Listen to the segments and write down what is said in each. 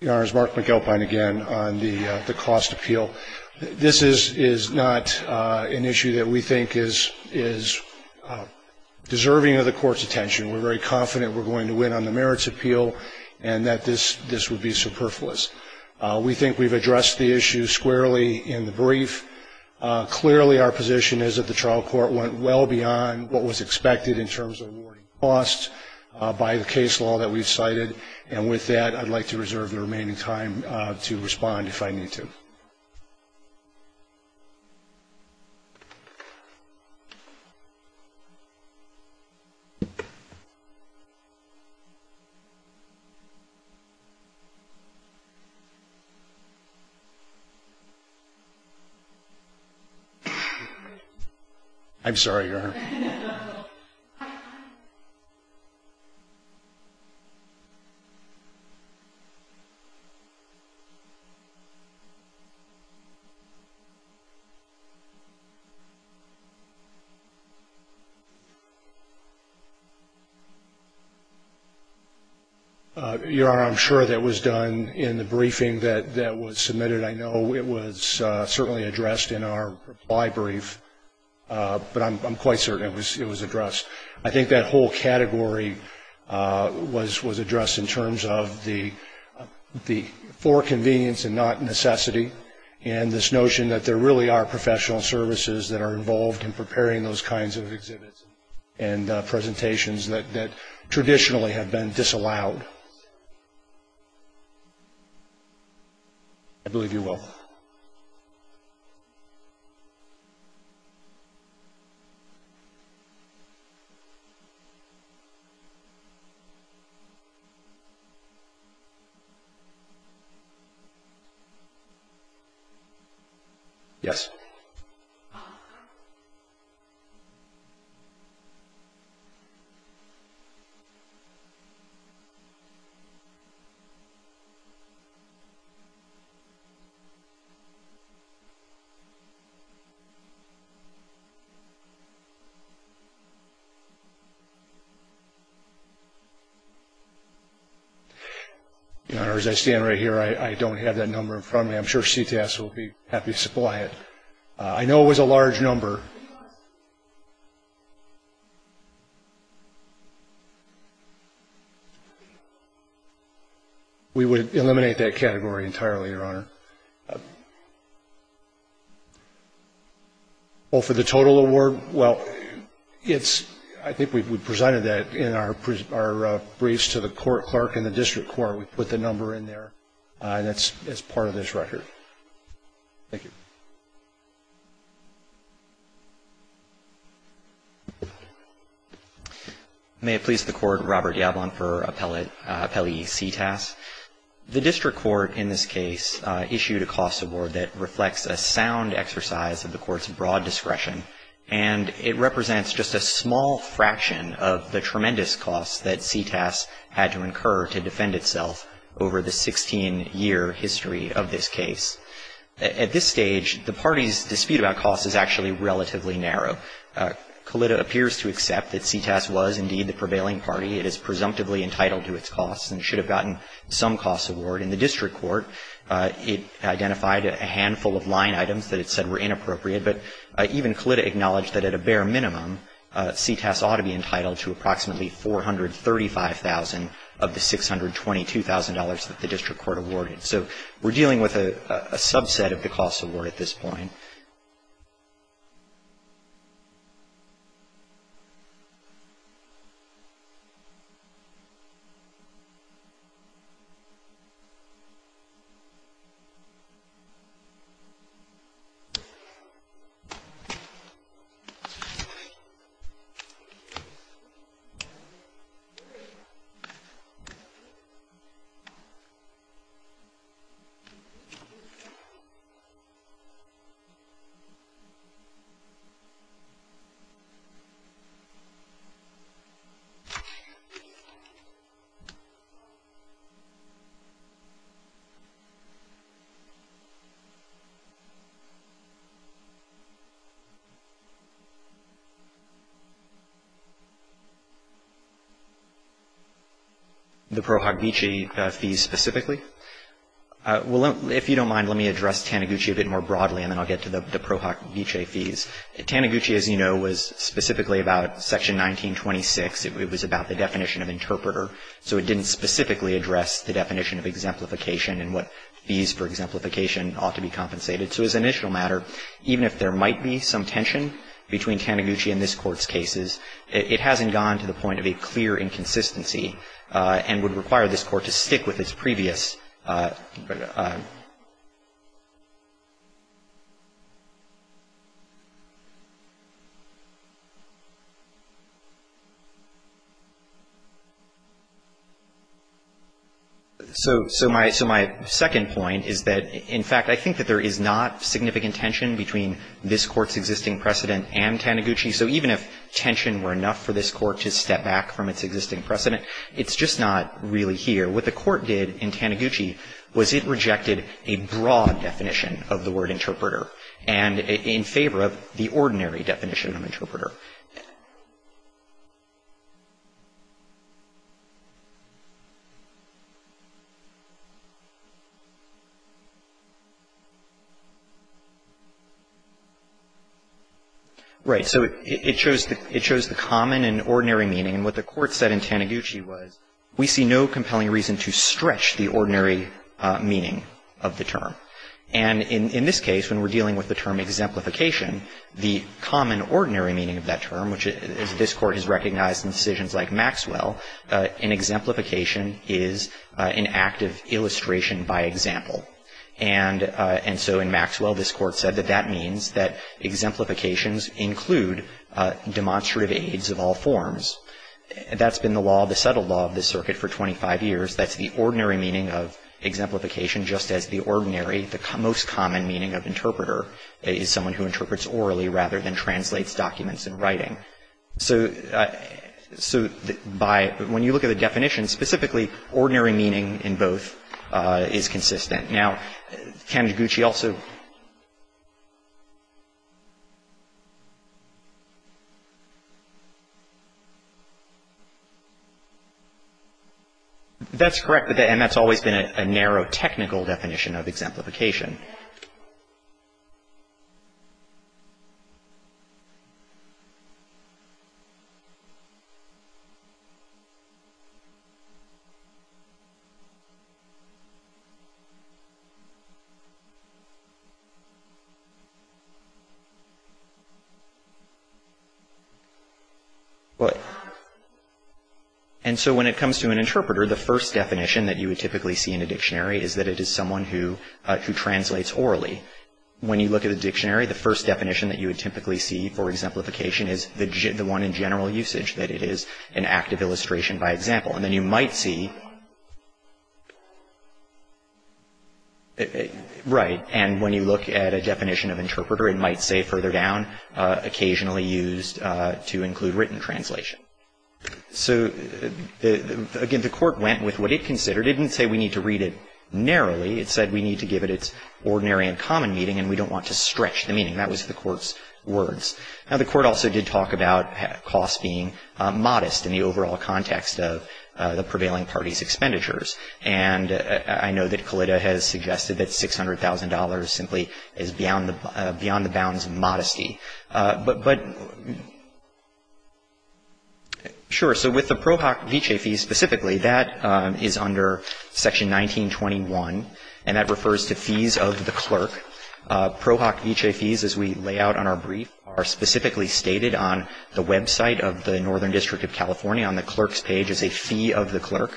The Honorable Mark McAlpine again on the cost appeal. This is not an issue that we think is deserving of the court's attention. We're very confident we're going to win on the merits appeal and that this would be superfluous. We think we've addressed the issue squarely in the brief. Clearly our position is that the trial court went well beyond what was expected in terms of awarding costs, by the case law that we've cited. And with that, I'd like to reserve the remaining time to respond if I need to. I'm sorry, Your Honor. Your Honor, I'm sure that was done in the briefing that was submitted. I know it was certainly addressed in our reply brief, but I'm quite certain it was addressed. I think that whole category was addressed in terms of the for convenience and not necessity, and this notion that there really are professional services that are involved in preparing those kinds of exhibits and presentations that traditionally have been disallowed. I believe you will. Yes. Your Honor, as I stand right here, I don't have that number in front of me. I'm sure CTAS will be happy to supply it. I know it was a large number. We would eliminate that category entirely, Your Honor. Well, for the total award, well, I think we presented that in our briefs to the court clerk and the district court. We put the number in there, and it's part of this record. Thank you. May it please the court, Robert Yablon for appellee CTAS. The district court in this case issued a cost award that reflects a sound exercise of the court's broad discretion, and it represents just a small fraction of the tremendous cost that CTAS had to incur to defend itself over the 16-year history of this case. At this stage, the party's dispute about cost is actually relatively narrow. Colitta appears to accept that CTAS was indeed the prevailing party. It is presumptively entitled to its costs and should have gotten some cost award. In the district court, it identified a handful of line items that it said were inappropriate, but even Colitta acknowledged that at a bare minimum, CTAS ought to be entitled to approximately $435,000 of the $622,000 that the district court awarded. So we're dealing with a subset of the cost award at this point. Thank you. Well, if you don't mind, let me address Taniguchi a bit more broadly, and then I'll get to the Pro Hoc Vicee fees. Taniguchi, as you know, was specifically about Section 1926. It was about the definition of interpreter, so it didn't specifically address the definition of exemplification and what fees for exemplification ought to be compensated. So as an initial matter, even if there might be some tension between Taniguchi and this Court's cases, it hasn't gone to the point of a clear inconsistency and would require this Court to stick with its previous So my second point is that, in fact, I think that there is not significant tension between this Court's existing precedent and Taniguchi. So even if tension were enough for this Court to step back from its existing precedent, it's just not really here. What the Court did in Taniguchi was to say, well, we're not going to do that. We're not going to do that. What the Court did in Taniguchi was it rejected a broad definition of the word interpreter and in favor of the ordinary definition of interpreter. Right. So it shows the common and ordinary meaning. And what the Court said in Taniguchi was, we see no compelling reason to stretch the ordinary meaning of the term. And in this case, when we're dealing with the term exemplification, the common ordinary term, which this Court has recognized in decisions like Maxwell, an exemplification is an act of illustration by example. And so in Maxwell, this Court said that that means that exemplifications include demonstrative aids of all forms. That's been the law, the settled law, of this Circuit for 25 years. That's the ordinary meaning of exemplification, just as the ordinary, the most common meaning of interpreter is someone who interprets orally rather than translates documents in writing. So by — when you look at the definition, specifically, ordinary meaning in both is consistent. Now, Taniguchi also — What? And so when it comes to an interpreter, the first definition that you would typically see in a dictionary is that it is someone who translates orally. When you look at a dictionary, the first definition that you would typically see for exemplification is the one in general usage, that it is an act of illustration by example. And then you might see — Right. And when you look at a definition of interpreter, it might say further down, occasionally used to include written translation. So, again, the Court went with what it considered. It didn't say we need to read it narrowly. It said we need to give it its ordinary and common meaning, and we don't want to stretch the meaning. That was the Court's words. Now, the Court also did talk about costs being modest in the overall context of the prevailing parties' expenditures. And I know that Kalita has suggested that $600,000 simply is beyond the bounds of modesty. But — Sure. So with the Pro Hoc Vitae fees specifically, that is under Section 1921, and that refers to fees of the clerk. Pro Hoc Vitae fees, as we lay out on our brief, are specifically stated on the website of the Northern District of California on the clerk's page as a fee of the clerk.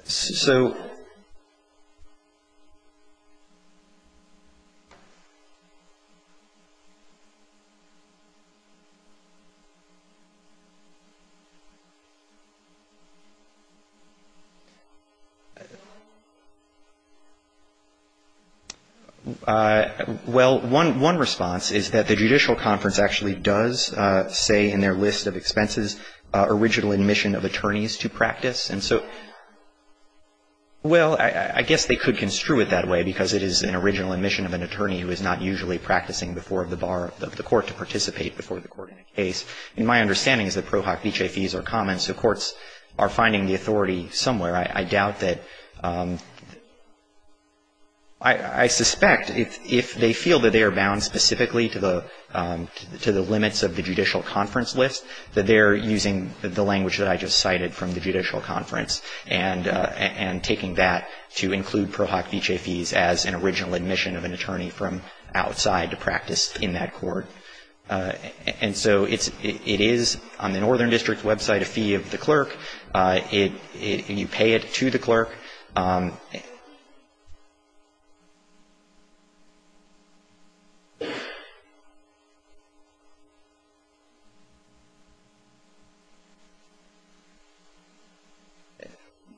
Okay. So — Well, one response is that the judicial conference actually does say in their list of expenses original admission of attorneys to practice. And so — well, I guess they could construe it that way because it is an original admission of an attorney who is not usually practicing before the bar of the court to participate before the court in a case. And my understanding is that Pro Hoc Vitae fees are common, so courts are finding the authority somewhere. I doubt that — I suspect if they feel that they are bound specifically to the limits of the judicial conference list, that they're using the language that I just cited from the judicial conference and taking that to include Pro Hoc Vitae fees as an original admission of an attorney from outside to practice in that court. And so it is on the Northern District's website a fee of the clerk. You pay it to the clerk.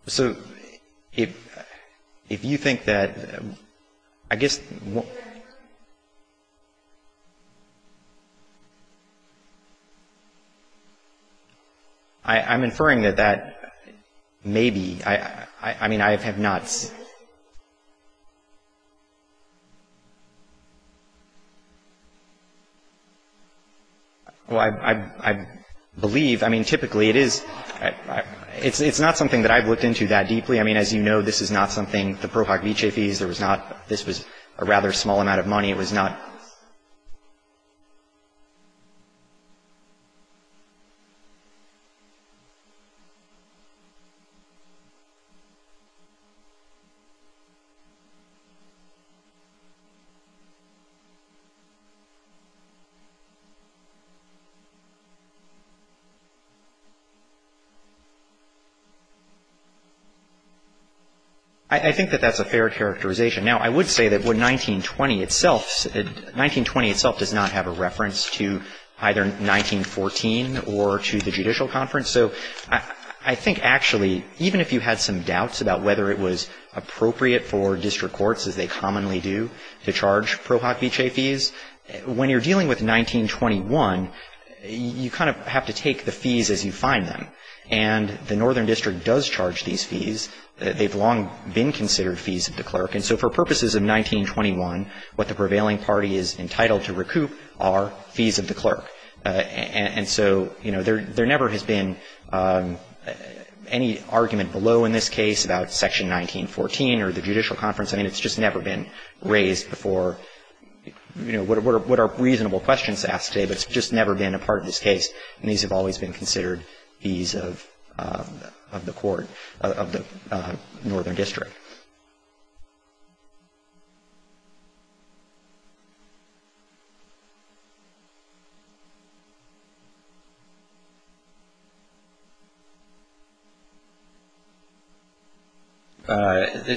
So if you think that — I guess — I'm inferring that that may be — I mean, I have not seen — Well, I believe — I mean, typically it is — it's not something that I've looked into that deeply. I mean, as you know, this is not something — the Pro Hoc Vitae fees, there was not I think that that's a fair characterization. Now, I would say that 1920 itself — 1920 itself does not have a reference to either 1914 or to the judicial conference. So I think actually, even if you had some doubts about whether it was appropriate for district courts, as they commonly do, to charge Pro Hoc Vitae fees, when you're dealing with 1921, you kind of have to take the fees as you find them. And the Northern District does charge these fees. They've long been considered fees of the clerk. And so for purposes of 1921, what the prevailing party is entitled to recoup are fees of the clerk. And so, you know, there never has been any argument below in this case about Section 1914 or the judicial conference. I mean, it's just never been raised before — you know, what are reasonable questions asked today, but it's just never been a part of this case. And these have always been considered fees of the court — of the Northern District.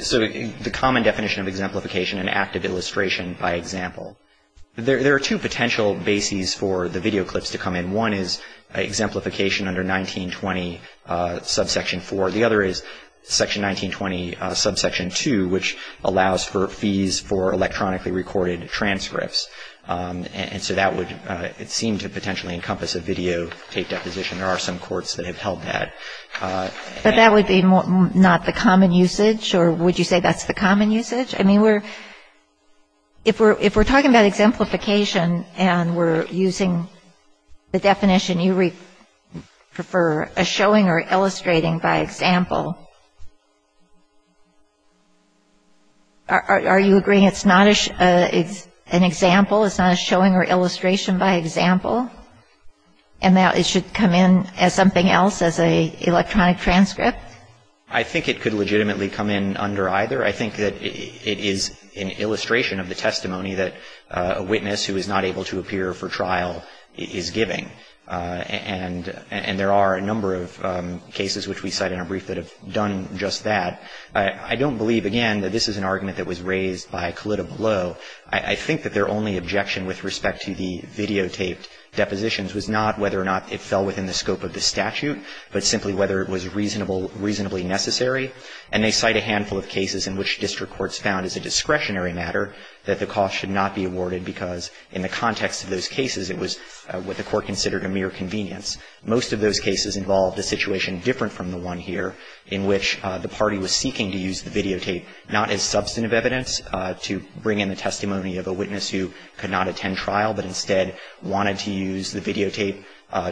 So the common definition of exemplification, an act of illustration, by example. There are two potential bases for the video clips to come in. One is exemplification under 1920, subsection 4. The other is Section 1920, subsection 2, which allows for fees for electronically recorded transcripts. And so that would seem to potentially encompass a video tape deposition. There are some courts that have held that. But that would be not the common usage? Or would you say that's the common usage? I mean, we're — if we're talking about exemplification and we're using the definition you prefer, a showing or illustrating by example, are you agreeing it's not an example, it's not a showing or illustration by example, and that it should come in as something else, as an electronic transcript? I think it could legitimately come in under either. I think that it is an illustration of the testimony that a witness who is not able to appear for trial is giving. And there are a number of cases, which we cite in our brief, that have done just that. I don't believe, again, that this is an argument that was raised by Kalitta below. I think that their only objection with respect to the videotaped depositions was not whether or not it fell within the scope of the statute, but simply whether it was reasonable — reasonably necessary. And they cite a handful of cases in which district courts found as a discretionary matter that the cost should not be awarded because in the context of those cases, it was what the Court considered a mere convenience. Most of those cases involved a situation different from the one here, in which the party was seeking to use the videotape not as substantive evidence to bring in the testimony of a witness who could not attend trial, but instead wanted to use the videotape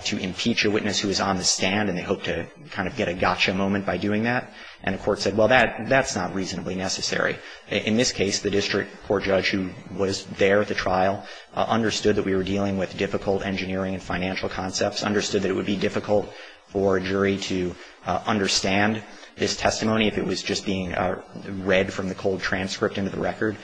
to impeach a witness who was on the stand and they hoped to kind of get a gotcha moment by doing that. And the Court said, well, that's not reasonably necessary. In this case, the district court judge who was there at the trial understood that we were dealing with difficult engineering and financial concepts, understood that it would be difficult for a jury to understand this testimony if it was just being read from the cold transcript into the record,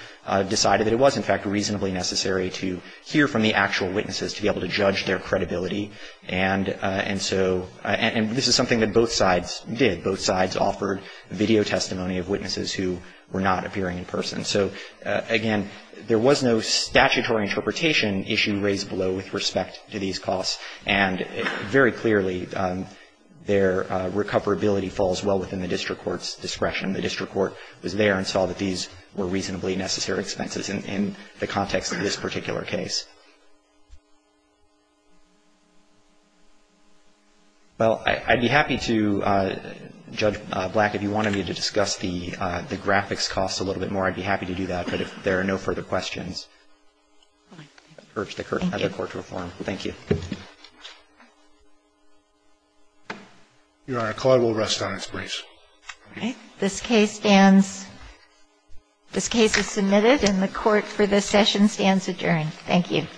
decided that it was, in fact, reasonably necessary to hear from the actual witnesses to be able to judge their credibility. And so this is something that both sides did. Both sides offered video testimony of witnesses who were not appearing in person. So, again, there was no statutory interpretation issue raised below with respect to these costs. And very clearly, their recoverability falls well within the district court's discretion. The district court was there and saw that these were reasonably necessary expenses in the context of this particular case. Well, I'd be happy to, Judge Black, if you wanted me to discuss the graphics costs a little bit more, I'd be happy to do that. But if there are no further questions, I'd urge the Court to reform. Thank you. Your Honor, Claude will rest on his brace. All right. This case stands. This case is submitted and the Court for this session stands adjourned. Thank you. Thank you.